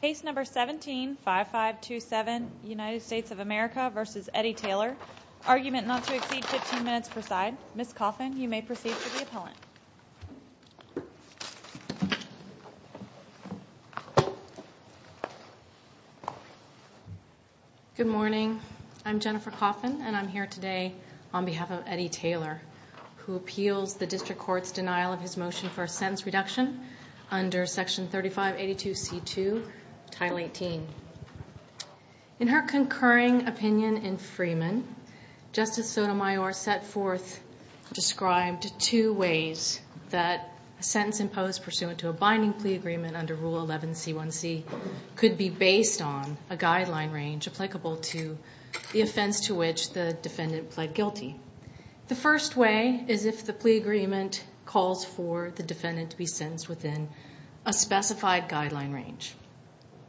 Case number 17-5527, United States of America v. Eddie Taylor. Argument not to exceed 15 minutes per side. Ms. Coffin, you may proceed to the appellant. Good morning. I'm Jennifer Coffin, and I'm here today on behalf of Eddie Taylor, who appeals the district court's denial of his motion for a sentence reduction under Section 3582C2, Title 18. In her concurring opinion in Freeman, Justice Sotomayor set forth and described two ways that a sentence imposed pursuant to a binding plea agreement under Rule 11C1C could be based on a guideline range applicable to the offense to which the defendant pled guilty. The first way is if the plea agreement calls for the defendant to be sentenced within a specified guideline range.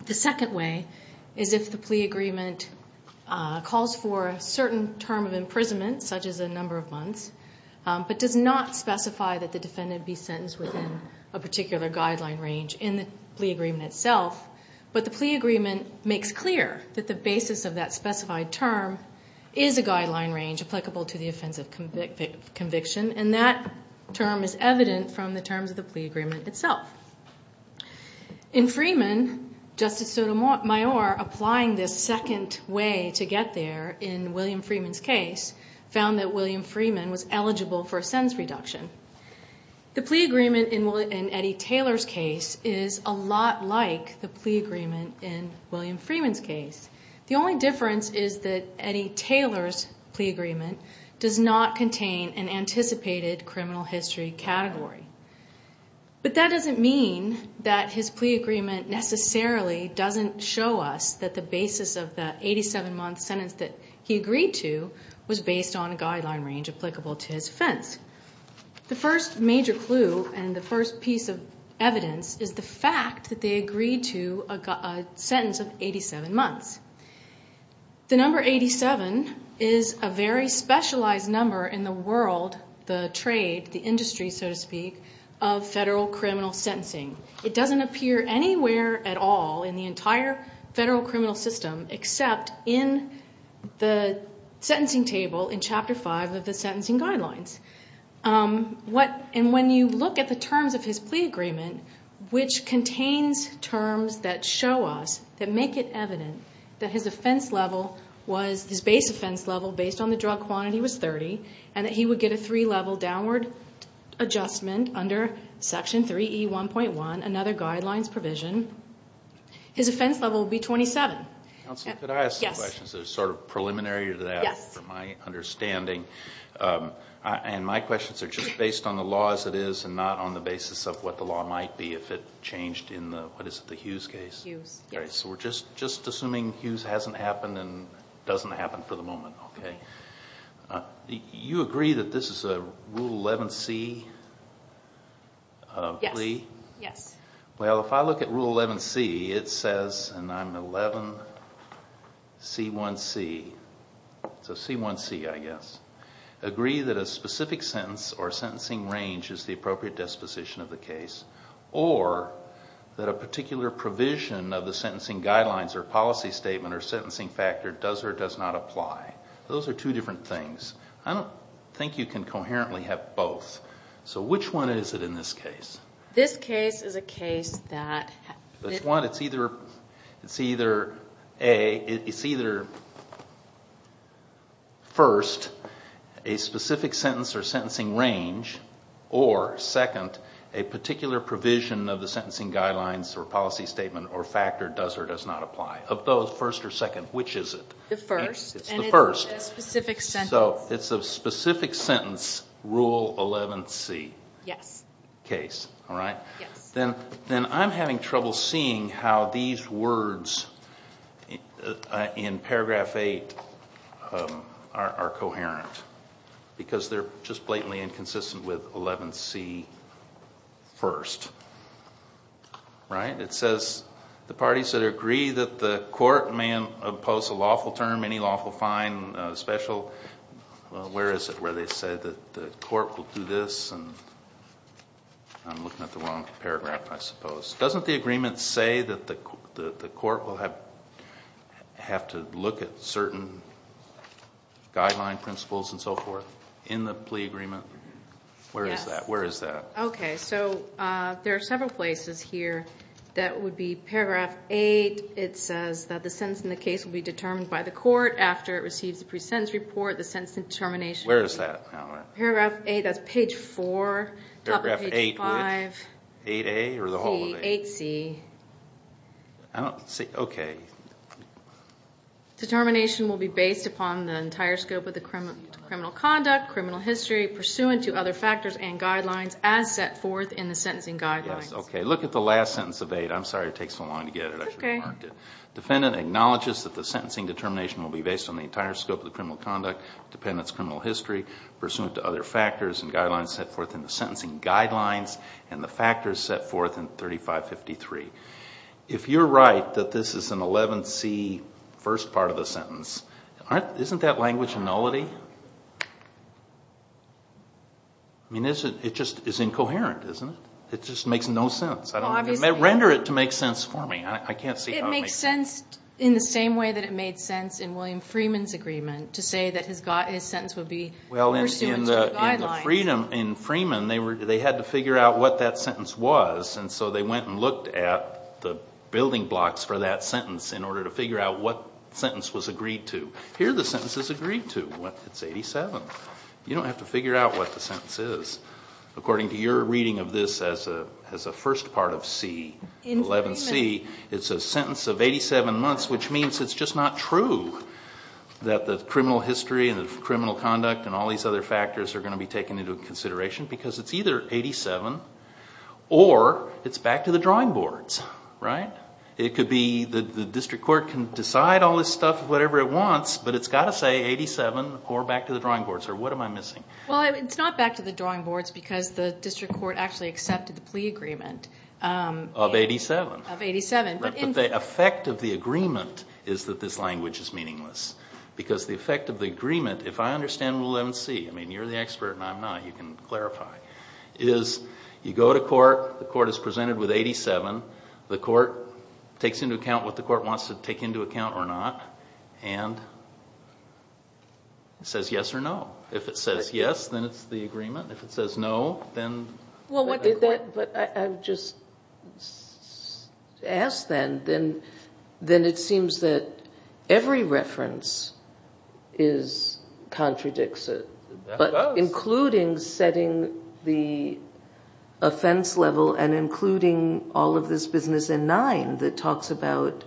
The second way is if the plea agreement calls for a certain term of imprisonment, such as a number of months, but does not specify that the defendant be sentenced within a particular guideline range in the plea agreement itself, but the plea agreement makes clear that the basis of that specified term is a guideline range applicable to the offense of conviction, and that term is evident from the terms of the plea agreement itself. In Freeman, Justice Sotomayor, applying this second way to get there in William Freeman's case, found that William Freeman was eligible for a sentence reduction. The plea agreement in Eddie Taylor's case is a lot like the plea agreement in William Freeman's case. The only difference is that Eddie Taylor's plea agreement does not contain an anticipated criminal history category. But that doesn't mean that his plea agreement necessarily doesn't show us that the basis of that 87-month sentence that he agreed to was based on a guideline range applicable to his offense. The first major clue and the first piece of evidence is the fact that they agreed to a sentence of 87 months. The number 87 is a very specialized number in the world, the trade, the industry, so to speak, of federal criminal sentencing. It doesn't appear anywhere at all in the entire federal criminal system except in the sentencing table in Chapter 5 of the sentencing guidelines. When you look at the terms of his plea agreement, which contains terms that show us, that make it evident, that his base offense level based on the drug quantity was 30 and that he would get a three-level downward adjustment under Section 3E1.1, another guidelines provision, his offense level would be 27. Counsel, could I ask some questions that are sort of preliminary to that from my understanding? My questions are just based on the law as it is and not on the basis of what the law might be if it changed in the Hughes case. So we're just assuming Hughes hasn't happened and doesn't happen for the moment. You agree that this is a Rule 11C plea? Yes. Well, if I look at Rule 11C, it says, and I'm 11C1C, so C1C, I guess. Agree that a specific sentence or sentencing range is the appropriate disposition of the case or that a particular provision of the sentencing guidelines or policy statement or sentencing factor does or does not apply. Those are two different things. I don't think you can coherently have both. So which one is it in this case? This case is a case that... It's either first, a specific sentence or sentencing range, or second, a particular provision of the sentencing guidelines or policy statement or factor does or does not apply. Of those, first or second, which is it? The first. It's the first. And it's a specific sentence. So it's a specific sentence, Rule 11C case. Yes. Then I'm having trouble seeing how these words in paragraph 8 are coherent because they're just blatantly inconsistent with 11C first. It says, the parties that agree that the court may impose a lawful term, any lawful fine, special... Where is it where they say that the court will do this? I'm looking at the wrong paragraph, I suppose. Doesn't the agreement say that the court will have to look at certain guideline principles and so forth in the plea agreement? Yes. Where is that? Okay. So there are several places here. That would be paragraph 8. It says that the sentence in the case will be determined by the court after it receives the pre-sentence report. The sentence determination... Where is that? Paragraph 8. That's page 4. Top of page 5. Paragraph 8, which? 8A or the whole of 8? 8C. I don't see... Okay. Determination will be based upon the entire scope of the criminal conduct, criminal history, pursuant to other factors and guidelines as set forth in the sentencing guidelines. Yes. Okay. Look at the last sentence of 8. I'm sorry it takes so long to get it. It's okay. I should have marked it. Defendant acknowledges that the sentencing determination will be based on the entire scope of the criminal conduct, dependent's criminal history, pursuant to other factors and guidelines set forth in the sentencing guidelines, and the factors set forth in 3553. If you're right that this is an 11C first part of the sentence, isn't that language nullity? I mean, it just is incoherent, isn't it? It just makes no sense. Well, obviously. Render it to make sense for me. I can't see how it makes sense. It makes sense in the same way that it made sense in William Freeman's agreement to say that his sentence would be pursuant to the guidelines. Well, in Freeman, they had to figure out what that sentence was, and so they went and looked at the building blocks for that sentence in order to figure out what sentence was agreed to. Here the sentence is agreed to. It's 87. You don't have to figure out what the sentence is. According to your reading of this as a first part of C, 11C, it's a sentence of 87 months, which means it's just not true that the criminal history and the criminal conduct and all these other factors are going to be taken into consideration, because it's either 87 or it's back to the drawing boards, right? It could be the district court can decide all this stuff whatever it wants, but it's got to say 87 or back to the drawing boards, or what am I missing? Well, it's not back to the drawing boards because the district court actually accepted the plea agreement. Of 87. Of 87. But the effect of the agreement is that this language is meaningless, because the effect of the agreement, if I understand 11C, I mean, you're the expert and I'm not, you can clarify, is you go to court, the court is presented with 87, the court takes into account what the court wants to take into account or not, and it says yes or no. If it says yes, then it's the agreement. If it says no, then the court. But I just ask then, then it seems that every reference contradicts it. That does. But including setting the offense level and including all of this business in nine that talks about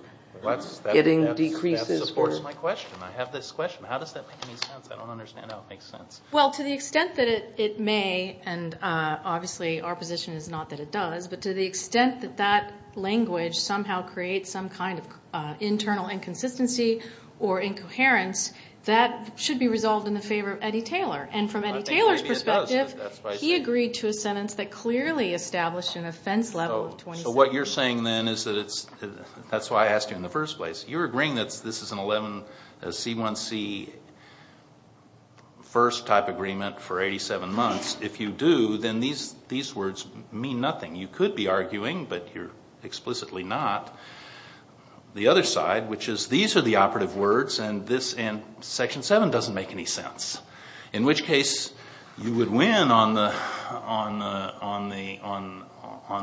getting decreases. That supports my question. I have this question. How does that make any sense? I don't understand how it makes sense. Well, to the extent that it may, and obviously our position is not that it does, but to the extent that that language somehow creates some kind of internal inconsistency or incoherence, that should be resolved in the favor of Eddie Taylor. And from Eddie Taylor's perspective, he agreed to a sentence that clearly established an offense level of 27. So what you're saying then is that it's, that's why I asked you in the first place. You're agreeing that this is an 11 C1C first type agreement for 87 months. If you do, then these words mean nothing. You could be arguing, but you're explicitly not. The other side, which is these are the operative words, and section 7 doesn't make any sense, in which case you would win on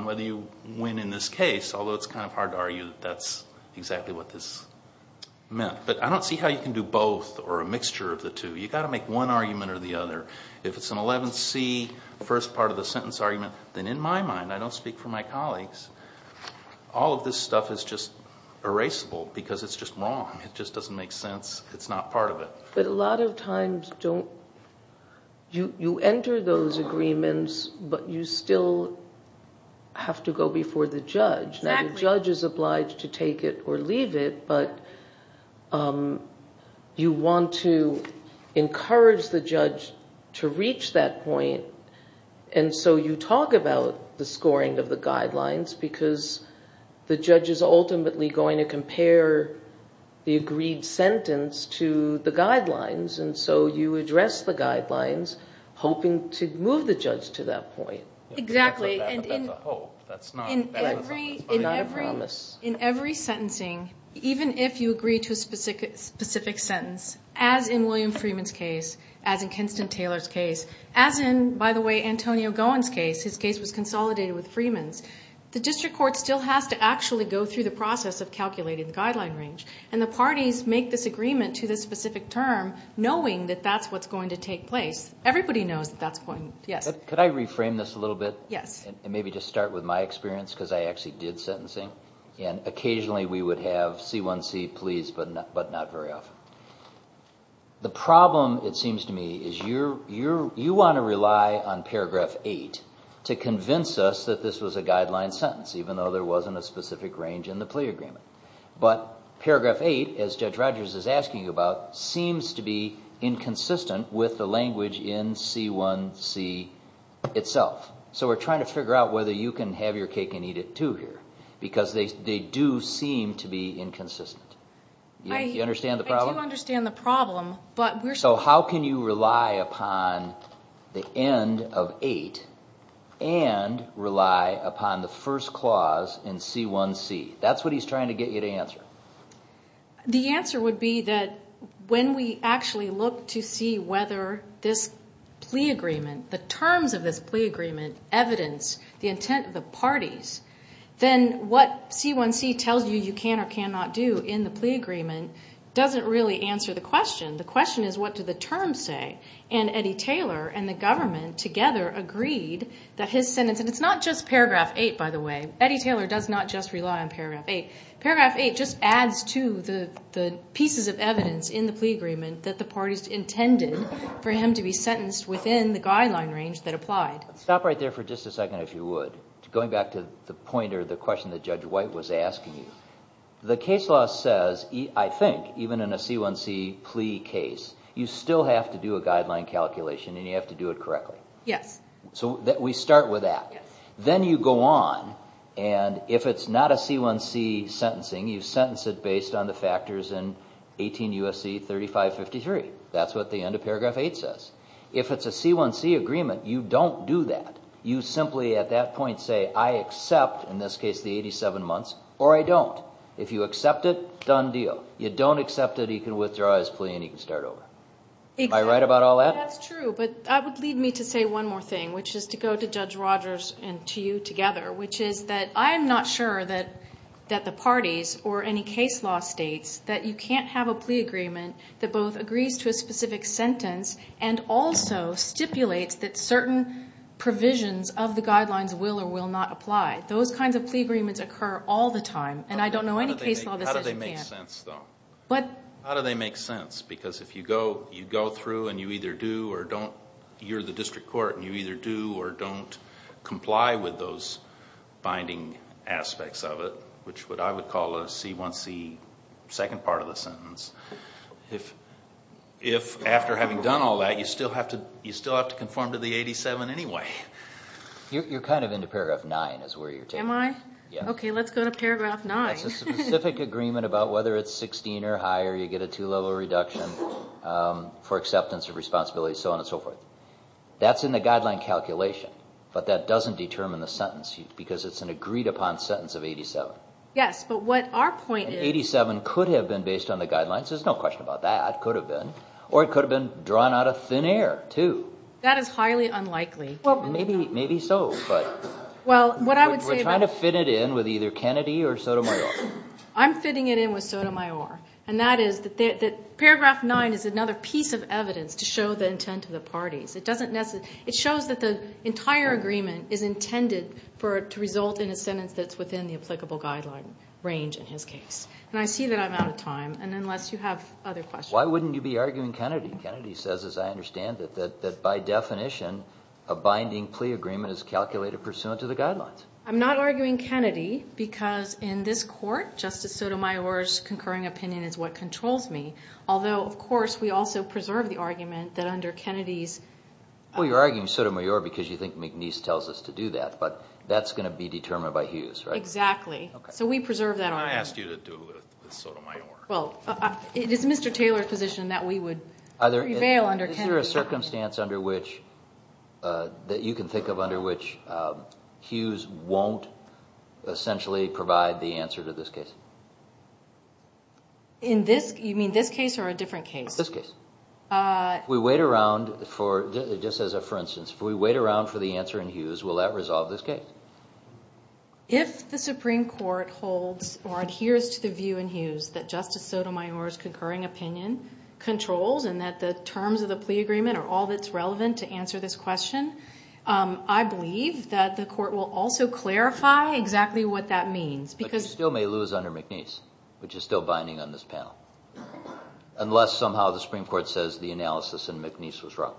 whether you win in this case, although it's kind of hard to argue that that's exactly what this meant. But I don't see how you can do both or a mixture of the two. You've got to make one argument or the other. If it's an 11 C first part of the sentence argument, then in my mind, I don't speak for my colleagues, all of this stuff is just erasable because it's just wrong. It just doesn't make sense. It's not part of it. But a lot of times you enter those agreements, but you still have to go before the judge. Now the judge is obliged to take it or leave it, but you want to encourage the judge to reach that point, and so you talk about the scoring of the guidelines because the judge is ultimately going to compare the agreed sentence to the guidelines, and so you address the guidelines hoping to move the judge to that point. Exactly. That's a hope. That's not a promise. In every sentencing, even if you agree to a specific sentence, as in William Freeman's case, as in Kenston Taylor's case, as in, by the way, Antonio Gowen's case. His case was consolidated with Freeman's. The district court still has to actually go through the process of calculating the guideline range, and the parties make this agreement to this specific term knowing that that's what's going to take place. Everybody knows that that's going to take place. Could I reframe this a little bit? Yes. And maybe just start with my experience because I actually did sentencing, and occasionally we would have C1C, please, but not very often. The problem, it seems to me, is you want to rely on paragraph 8 to convince us that this was a guideline sentence, even though there wasn't a specific range in the plea agreement. But paragraph 8, as Judge Rogers is asking about, seems to be inconsistent with the language in C1C itself. So we're trying to figure out whether you can have your cake and eat it too here because they do seem to be inconsistent. Do you understand the problem? I do understand the problem, but we're still... So how can you rely upon the end of 8 and rely upon the first clause in C1C? That's what he's trying to get you to answer. The answer would be that when we actually look to see whether this plea agreement, the terms of this plea agreement, evidence the intent of the parties, then what C1C tells you you can or cannot do in the plea agreement doesn't really answer the question. The question is what do the terms say? And Eddie Taylor and the government together agreed that his sentence, and it's not just paragraph 8, by the way. Eddie Taylor does not just rely on paragraph 8. Paragraph 8 just adds to the pieces of evidence in the plea agreement that the parties intended for him to be sentenced within the guideline range that applied. Stop right there for just a second, if you would, going back to the point or the question that Judge White was asking you. The case law says, I think, even in a C1C plea case, you still have to do a guideline calculation and you have to do it correctly. Yes. So we start with that. Yes. Then you go on, and if it's not a C1C sentencing, you sentence it based on the factors in 18 U.S.C. 3553. That's what the end of paragraph 8 says. If it's a C1C agreement, you don't do that. You simply at that point say, I accept, in this case, the 87 months, or I don't. If you accept it, done deal. You don't accept it, he can withdraw his plea and he can start over. Am I right about all that? That's true, but that would lead me to say one more thing, which is to go to Judge Rogers and to you together, which is that I am not sure that the parties or any case law states that you can't have a plea agreement that both agrees to a specific sentence and also stipulates that certain provisions of the guidelines will or will not apply. Those kinds of plea agreements occur all the time, and I don't know any case law that says you can't. How do they make sense, though? What? How do they make sense? Because if you go through and you either do or don't, you're the district court and you either do or don't comply with those binding aspects of it, which what I would call a C1C second part of the sentence, if after having done all that you still have to conform to the 87 anyway. You're kind of into paragraph 9 is where you're taking it. Am I? Yes. Okay, let's go to paragraph 9. It's a specific agreement about whether it's 16 or higher, you get a two-level reduction for acceptance of responsibility, so on and so forth. That's in the guideline calculation, but that doesn't determine the sentence because it's an agreed-upon sentence of 87. Yes, but what our point is- 87 could have been based on the guidelines. There's no question about that. It could have been. Or it could have been drawn out of thin air, too. That is highly unlikely. Maybe so, but we're trying to fit it in with either Kennedy or Sotomayor. I'm fitting it in with Sotomayor, and that is that paragraph 9 is another piece of evidence to show the intent of the parties. It shows that the entire agreement is intended to result in a sentence that's within the applicable guideline range in his case, and I see that I'm out of time unless you have other questions. Why wouldn't you be arguing Kennedy? Kennedy says, as I understand it, that by definition a binding plea agreement is calculated pursuant to the guidelines. I'm not arguing Kennedy because in this court Justice Sotomayor's concurring opinion is what controls me, although, of course, we also preserve the argument that under Kennedy's- Well, you're arguing Sotomayor because you think McNeese tells us to do that, but that's going to be determined by Hughes, right? Exactly. So we preserve that argument. I asked you to do it with Sotomayor. Is there a circumstance that you can think of under which Hughes won't essentially provide the answer to this case? You mean this case or a different case? This case. If we wait around, just as a for instance, if we wait around for the answer in Hughes, will that resolve this case? If the Supreme Court holds or adheres to the view in Hughes that Justice Sotomayor's concurring opinion controls and that the terms of the plea agreement are all that's relevant to answer this question, I believe that the court will also clarify exactly what that means. But you still may lose under McNeese, which is still binding on this panel, unless somehow the Supreme Court says the analysis in McNeese was wrong.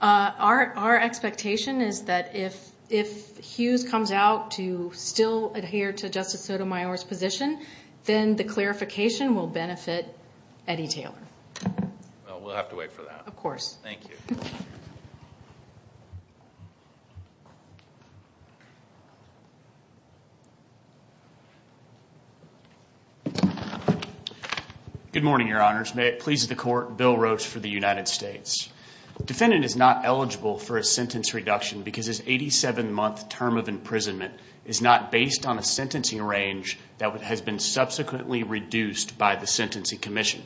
Our expectation is that if Hughes comes out to still adhere to Justice Sotomayor's position, then the clarification will benefit Eddie Taylor. We'll have to wait for that. Of course. Thank you. Good morning, Your Honors. May it please the Court, Bill Roach for the United States. Defendant is not eligible for a sentence reduction because his 87-month term of imprisonment is not based on a sentencing range that has been subsequently reduced by the sentencing commission.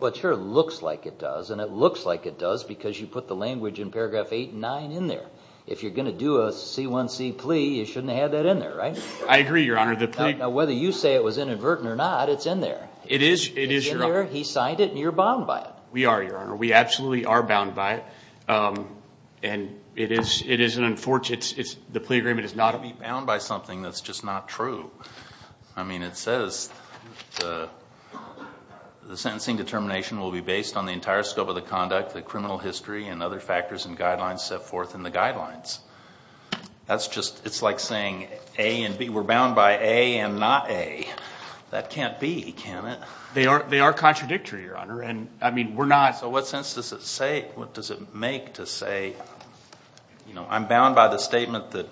Well, it sure looks like it does, and it looks like it does because you put the language in paragraph 8 and 9 in there. If you're going to do a C1C plea, you shouldn't have that in there, right? I agree, Your Honor. Now, whether you say it was inadvertent or not, it's in there. It is, Your Honor. It's in there, he signed it, and you're bound by it. We are, Your Honor. We absolutely are bound by it. It is an unfortunate, the plea agreement is not. We're bound by something that's just not true. I mean, it says the sentencing determination will be based on the entire scope of the conduct, the criminal history, and other factors and guidelines set forth in the guidelines. That's just, it's like saying A and B, we're bound by A and not A. That can't be, can it? They are contradictory, Your Honor, and I mean, we're not. So what sense does it make to say, you know, I'm bound by the statement that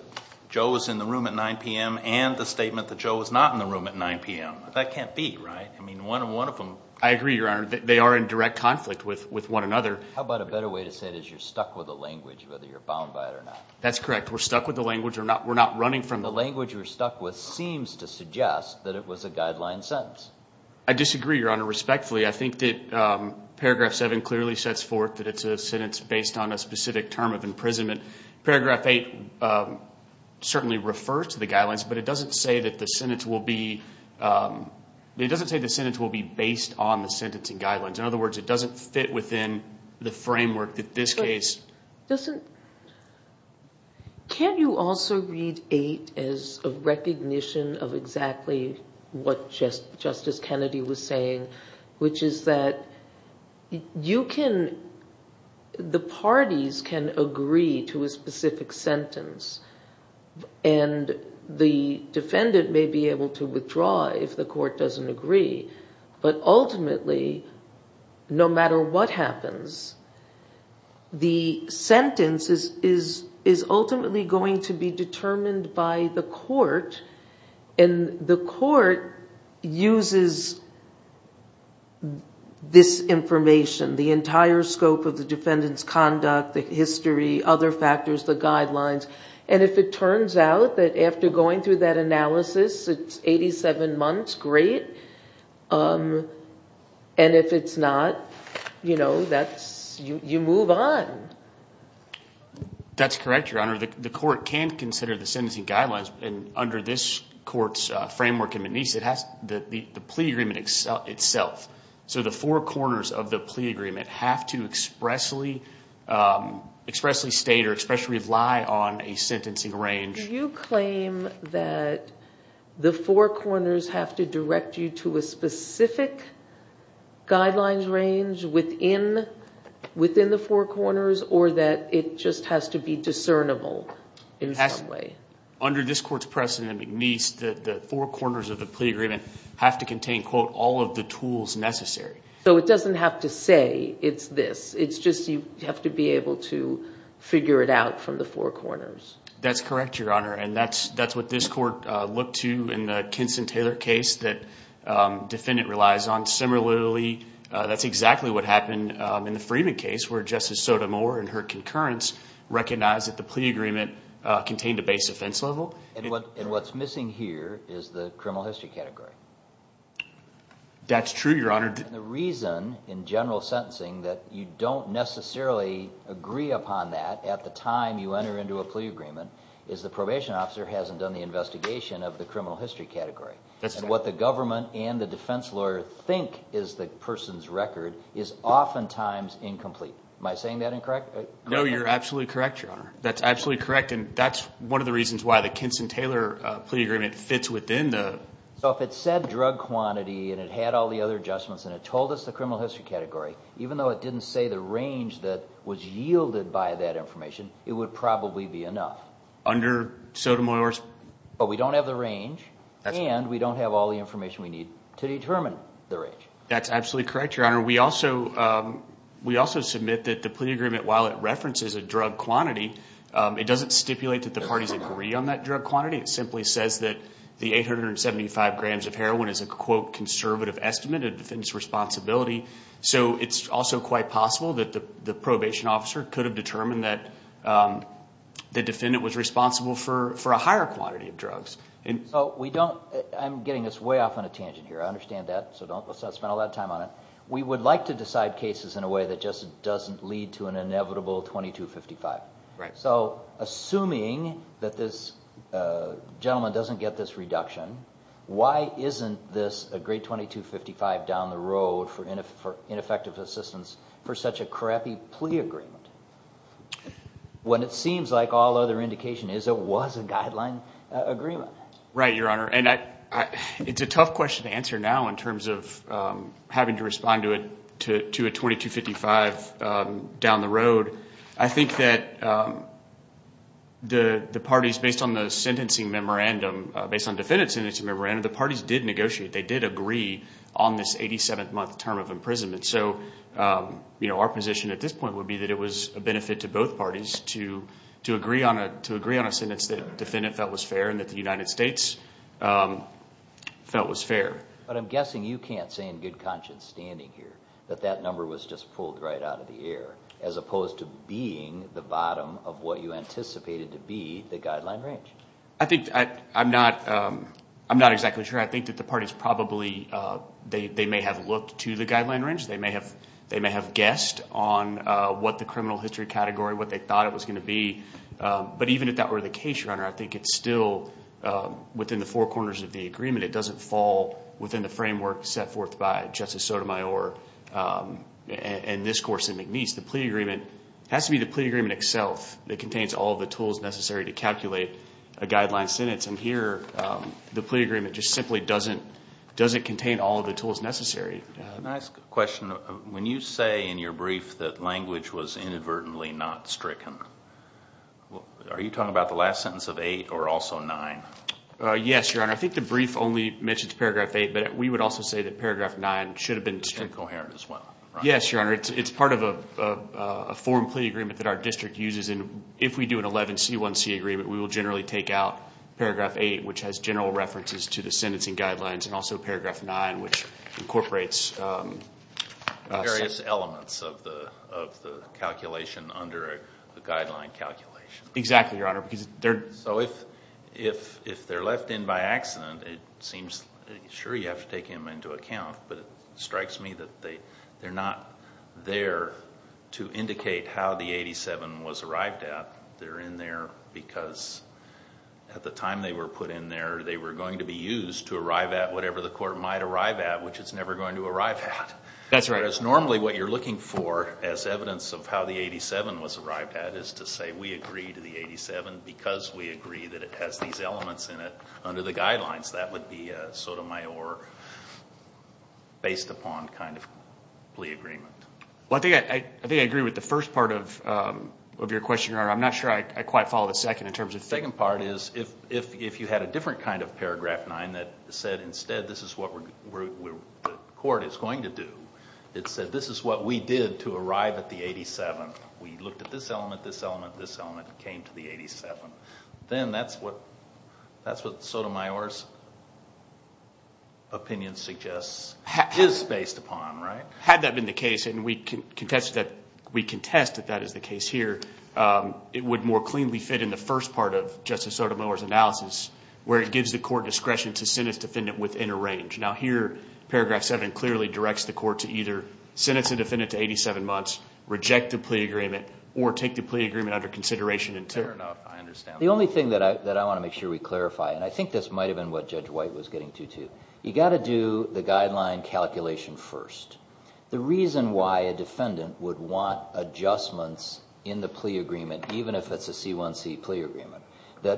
Joe was in the room at 9 p.m. and the statement that Joe was not in the room at 9 p.m.? That can't be, right? I mean, one of them. I agree, Your Honor. They are in direct conflict with one another. How about a better way to say it is you're stuck with the language, whether you're bound by it or not. That's correct. We're stuck with the language. We're not running from it. The language you're stuck with seems to suggest that it was a guideline sentence. I disagree, Your Honor, respectfully. I think that Paragraph 7 clearly sets forth that it's a sentence based on a specific term of imprisonment. Paragraph 8 certainly refers to the guidelines, but it doesn't say that the sentence will be, it doesn't say the sentence will be based on the sentencing guidelines. In other words, it doesn't fit within the framework that this case. Can you also read 8 as a recognition of exactly what Justice Kennedy was saying, which is that you can, the parties can agree to a specific sentence, and the defendant may be able to withdraw if the court doesn't agree, but ultimately, no matter what happens, the sentence is ultimately going to be determined by the court, and the court uses this information, the entire scope of the defendant's conduct, the history, other factors, the guidelines, and if it turns out that after going through that analysis, it's 87 months, great, and if it's not, you move on. That's correct, Your Honor. The court can consider the sentencing guidelines, and under this court's framework, it has the plea agreement itself. So the four corners of the plea agreement have to expressly state or expressly rely on a sentencing range. Do you claim that the four corners have to direct you to a specific guidelines range within the four corners, or that it just has to be discernible in some way? Under this court's precedent, the four corners of the plea agreement have to contain, quote, all of the tools necessary. So it doesn't have to say it's this. It's just you have to be able to figure it out from the four corners. That's correct, Your Honor, and that's what this court looked to in the Kinson-Taylor case that the defendant relies on. Similarly, that's exactly what happened in the Freeman case, where Justice Sotomayor, in her concurrence, recognized that the plea agreement contained a base offense level. And what's missing here is the criminal history category. That's true, Your Honor. And the reason, in general sentencing, that you don't necessarily agree upon that at the time you enter into a plea agreement is the probation officer hasn't done the investigation of the criminal history category. And what the government and the defense lawyer think is the person's record is oftentimes incomplete. Am I saying that incorrectly? No, you're absolutely correct, Your Honor. That's absolutely correct, and that's one of the reasons why the Kinson-Taylor plea agreement fits within the... So if it said drug quantity and it had all the other adjustments and it told us the criminal history category, even though it didn't say the range that was yielded by that information, it would probably be enough. Under Sotomayor's... But we don't have the range, and we don't have all the information we need to determine the range. That's absolutely correct, Your Honor. We also submit that the plea agreement, while it references a drug quantity, it doesn't stipulate that the parties agree on that drug quantity. It simply says that the 875 grams of heroin is a, quote, conservative estimate of the defendant's responsibility. So it's also quite possible that the probation officer could have determined that the defendant was responsible for a higher quantity of drugs. So we don't... I'm getting this way off on a tangent here. I understand that, so let's not spend all that time on it. We would like to decide cases in a way that just doesn't lead to an inevitable 2255. So assuming that this gentleman doesn't get this reduction, why isn't this a great 2255 down the road for ineffective assistance for such a crappy plea agreement? When it seems like all other indication is it was a guideline agreement. Right, Your Honor. And it's a tough question to answer now in terms of having to respond to a 2255 down the road. I think that the parties, based on the sentencing memorandum, based on defendant's sentencing memorandum, the parties did negotiate. They did agree on this 87th month term of imprisonment. So our position at this point would be that it was a benefit to both parties to agree on a sentence that the defendant felt was fair and that the United States felt was fair. But I'm guessing you can't say in good conscience standing here that that number was just pulled right out of the air, as opposed to being the bottom of what you anticipated to be the guideline range. I'm not exactly sure. I think that the parties probably may have looked to the guideline range. They may have guessed on what the criminal history category, what they thought it was going to be. But even if that were the case, Your Honor, I think it's still within the four corners of the agreement. It doesn't fall within the framework set forth by Justice Sotomayor and this course in McNeese. The plea agreement has to be the plea agreement itself. It contains all of the tools necessary to calculate a guideline sentence. And here the plea agreement just simply doesn't contain all of the tools necessary. Can I ask a question? When you say in your brief that language was inadvertently not stricken, are you talking about the last sentence of 8 or also 9? Yes, Your Honor. I think the brief only mentions Paragraph 8, but we would also say that Paragraph 9 should have been stricken. It's incoherent as well, right? Yes, Your Honor. It's part of a form plea agreement that our district uses. And if we do an 11C1C agreement, we will generally take out Paragraph 8, which has general references to the sentencing guidelines, and also Paragraph 9, which incorporates various elements of the calculation under a guideline calculation. Exactly, Your Honor. So if they're left in by accident, it seems sure you have to take him into account, but it strikes me that they're not there to indicate how the 87 was arrived at. They're in there because at the time they were put in there, they were going to be used to arrive at whatever the court might arrive at, which it's never going to arrive at. That's right. Whereas normally what you're looking for as evidence of how the 87 was arrived at is to say we agree to the 87 because we agree that it has these elements in it under the guidelines. That would be a sotomayor based upon kind of plea agreement. Well, I think I agree with the first part of your question, Your Honor. I'm not sure I quite follow the second in terms of the second part. The second part is if you had a different kind of Paragraph 9 that said instead this is what the court is going to do. It said this is what we did to arrive at the 87. We looked at this element, this element, this element, came to the 87. Then that's what the sotomayor's opinion suggests is based upon, right? Had that been the case, and we contest that that is the case here, it would more cleanly fit in the first part of Justice Sotomayor's analysis where it gives the court discretion to sentence the defendant within a range. Now here Paragraph 7 clearly directs the court to either sentence the defendant to 87 months, reject the plea agreement, or take the plea agreement under consideration until... Fair enough. I understand. The only thing that I want to make sure we clarify, and I think this might have been what Judge White was getting to too, you've got to do the guideline calculation first. The reason why a defendant would want adjustments in the plea agreement, even if it's a C1C plea agreement, that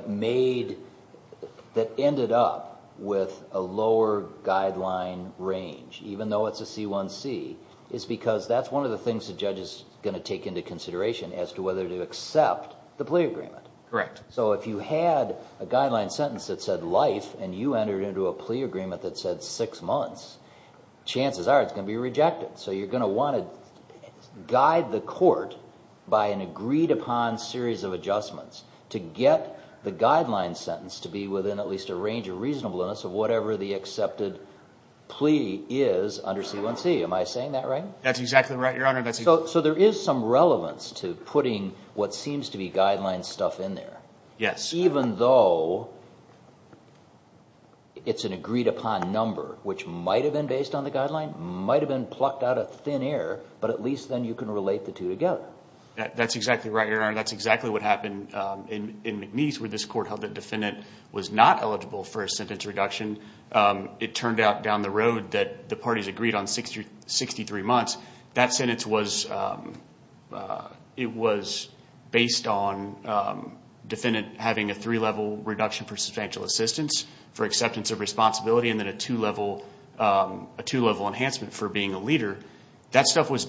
ended up with a lower guideline range, even though it's a C1C, is because that's one of the things the judge is going to take into consideration as to whether to accept the plea agreement. Correct. So if you had a guideline sentence that said life, and you entered into a plea agreement that said six months, chances are it's going to be rejected. So you're going to want to guide the court by an agreed upon series of adjustments to get the guideline sentence to be within at least a range of reasonableness of whatever the accepted plea is under C1C. Am I saying that right? That's exactly right, Your Honor. So there is some relevance to putting what seems to be guideline stuff in there. Yes. Even though it's an agreed upon number, which might have been based on the guideline, might have been plucked out of thin air, but at least then you can relate the two together. That's exactly right, Your Honor. That's exactly what happened in McNeese, where this court held the defendant was not eligible for a sentence reduction. It turned out down the road that the parties agreed on 63 months. That sentence was based on defendant having a three-level reduction for substantial assistance, for acceptance of responsibility, and then a two-level enhancement for being a leader. That stuff was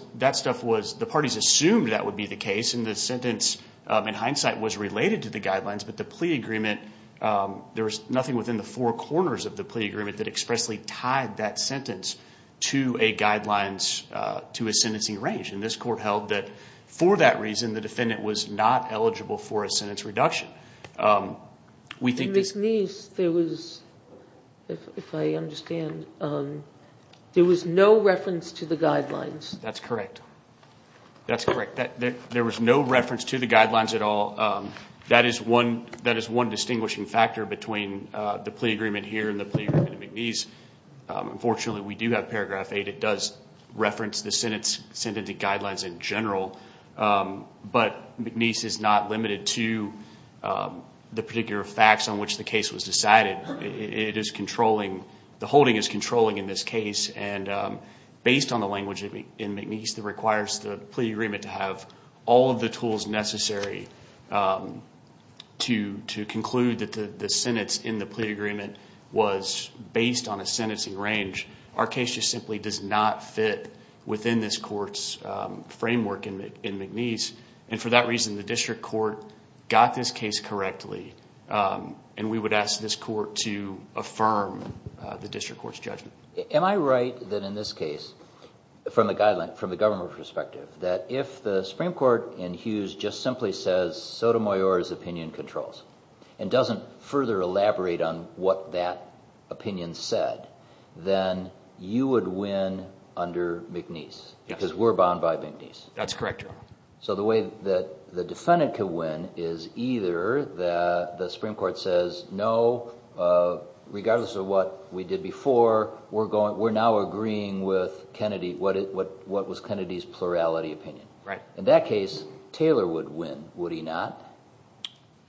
the parties assumed that would be the case, and the sentence in hindsight was related to the guidelines, but the plea agreement, there was nothing within the four corners of the plea agreement that expressly tied that sentence to a sentencing range. This court held that for that reason, the defendant was not eligible for a sentence reduction. In McNeese, there was, if I understand, there was no reference to the guidelines. That's correct. That's correct. There was no reference to the guidelines at all. That is one distinguishing factor between the plea agreement here and the plea agreement in McNeese. Unfortunately, we do have paragraph 8. It does reference the sentencing guidelines in general, but McNeese is not limited to the particular facts on which the case was decided. It is controlling, the holding is controlling in this case, and based on the language in McNeese that requires the plea agreement to have all of the tools necessary to conclude that the sentence in the plea agreement was based on a sentencing range, our case just simply does not fit within this court's framework in McNeese. For that reason, the district court got this case correctly, and we would ask this court to affirm the district court's judgment. Am I right that in this case, from the government perspective, that if the Supreme Court in Hughes just simply says Sotomayor's opinion controls and doesn't further elaborate on what that opinion said, then you would win under McNeese because we're bound by McNeese? That's correct, Your Honor. The way that the defendant could win is either the Supreme Court says, no, regardless of what we did before, we're now agreeing with Kennedy, what was Kennedy's plurality opinion. In that case, Taylor would win, would he not?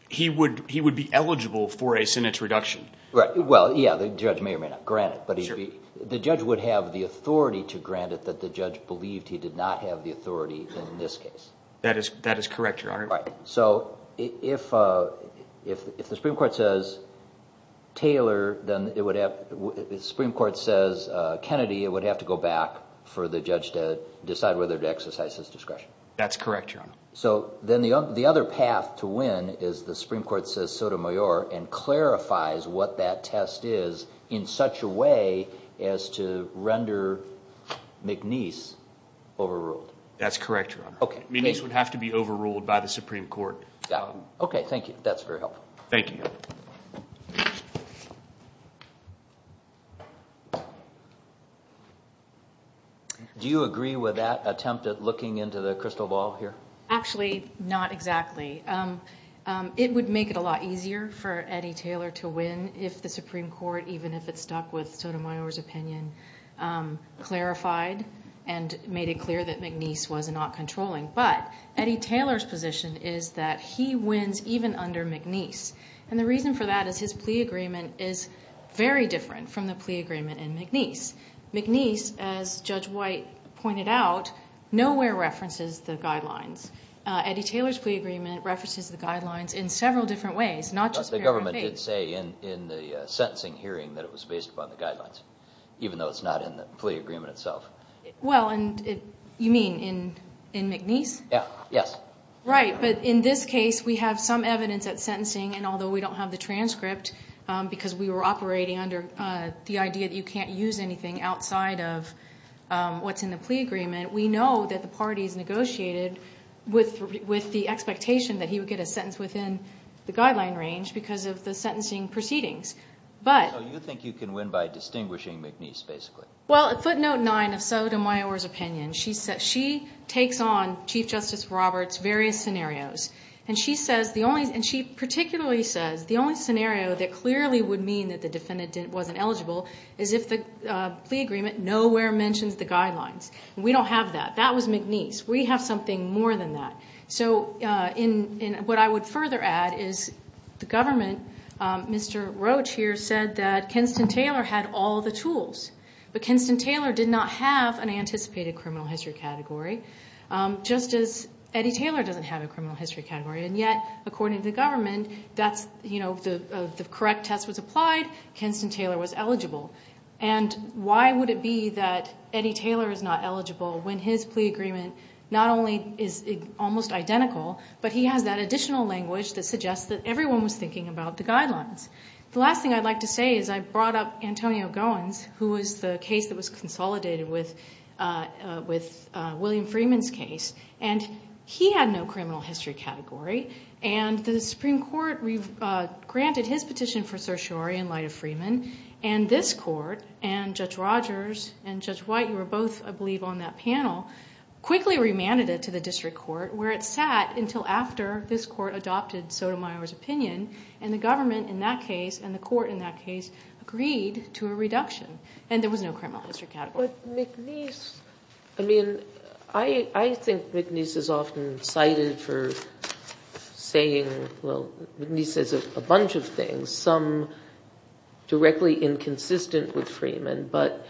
He would be eligible for a sentence reduction. Well, yeah, the judge may or may not grant it, but the judge would have the authority to grant it that the judge believed he did not have the authority in this case. That is correct, Your Honor. If the Supreme Court says Kennedy, it would have to go back for the judge to decide whether to exercise his discretion. That's correct, Your Honor. Then the other path to win is the Supreme Court says Sotomayor and clarifies what that test is in such a way as to render McNeese overruled. That's correct, Your Honor. McNeese would have to be overruled by the Supreme Court. Okay, thank you. That's very helpful. Thank you. Do you agree with that attempt at looking into the crystal ball here? Actually, not exactly. It would make it a lot easier for Eddie Taylor to win if the Supreme Court, even if it stuck with Sotomayor's opinion, clarified and made it clear that McNeese was not controlling. But Eddie Taylor's position is that he wins even under McNeese. And the reason for that is his plea agreement is very different from the plea agreement in McNeese. McNeese, as Judge White pointed out, nowhere references the guidelines. Eddie Taylor's plea agreement references the guidelines in several different ways, not just paranoid faith. The government did say in the sentencing hearing that it was based upon the guidelines, even though it's not in the plea agreement itself. Well, you mean in McNeese? Yes. Right, but in this case, we have some evidence at sentencing, and although we don't have the transcript because we were operating under the idea that you can't use anything outside of what's in the plea agreement, we know that the parties negotiated with the expectation that he would get a sentence within the guideline range because of the sentencing proceedings. So you think you can win by distinguishing McNeese, basically? Well, footnote 9 of Sotomayor's opinion. She takes on Chief Justice Roberts' various scenarios, and she particularly says the only scenario that clearly would mean that the defendant wasn't eligible is if the plea agreement nowhere mentions the guidelines. We don't have that. That was McNeese. We have something more than that. So what I would further add is the government, Mr. Roach here said that Kenston-Taylor had all the tools, but Kenston-Taylor did not have an anticipated criminal history category, just as Eddie Taylor doesn't have a criminal history category. And yet, according to the government, the correct test was applied. Kenston-Taylor was eligible. And why would it be that Eddie Taylor is not eligible when his plea agreement not only is almost identical, but he has that additional language that suggests that everyone was thinking about the guidelines? The last thing I'd like to say is I brought up Antonio Goins, who was the case that was consolidated with William Freeman's case, and he had no criminal history category. And the Supreme Court granted his petition for certiorari in light of Freeman, and this court and Judge Rogers and Judge White, who were both, I believe, on that panel, quickly remanded it to the district court where it sat until after this court adopted Sotomayor's opinion, and the government in that case and the court in that case agreed to a reduction, and there was no criminal history category. But McNeese, I mean, I think McNeese is often cited for saying, well, McNeese says a bunch of things, some directly inconsistent with Freeman, but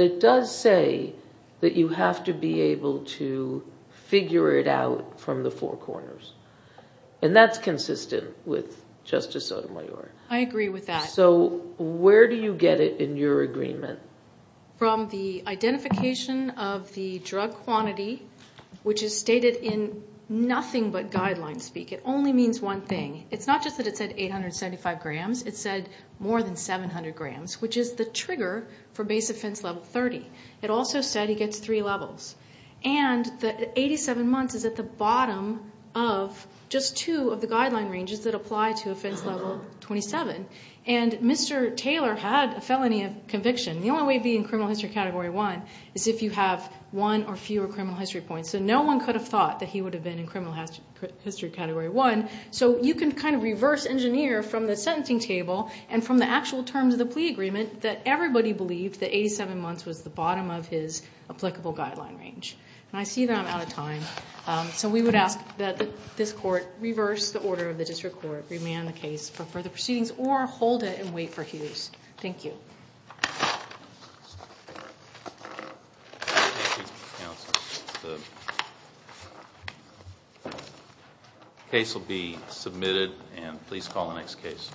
it does say that you have to be able to figure it out from the four corners, and that's consistent with Justice Sotomayor. I agree with that. So where do you get it in your agreement? From the identification of the drug quantity, which is stated in nothing but guideline speak. It only means one thing. It's not just that it said 875 grams. It said more than 700 grams, which is the trigger for base offense level 30. It also said he gets three levels. And the 87 months is at the bottom of just two of the guideline ranges that apply to offense level 27. And Mr. Taylor had a felony of conviction. The only way to be in criminal history category one is if you have one or fewer criminal history points. So no one could have thought that he would have been in criminal history category one. So you can kind of reverse engineer from the sentencing table and from the actual terms of the plea agreement that everybody believed that 87 months was the bottom of his applicable guideline range. And I see that I'm out of time. So we would ask that this court reverse the order of the district court, remand the case for further proceedings, or hold it and wait for Hughes. Thank you. Thank you. Thank you, counsel. The case will be submitted, and please call the next case.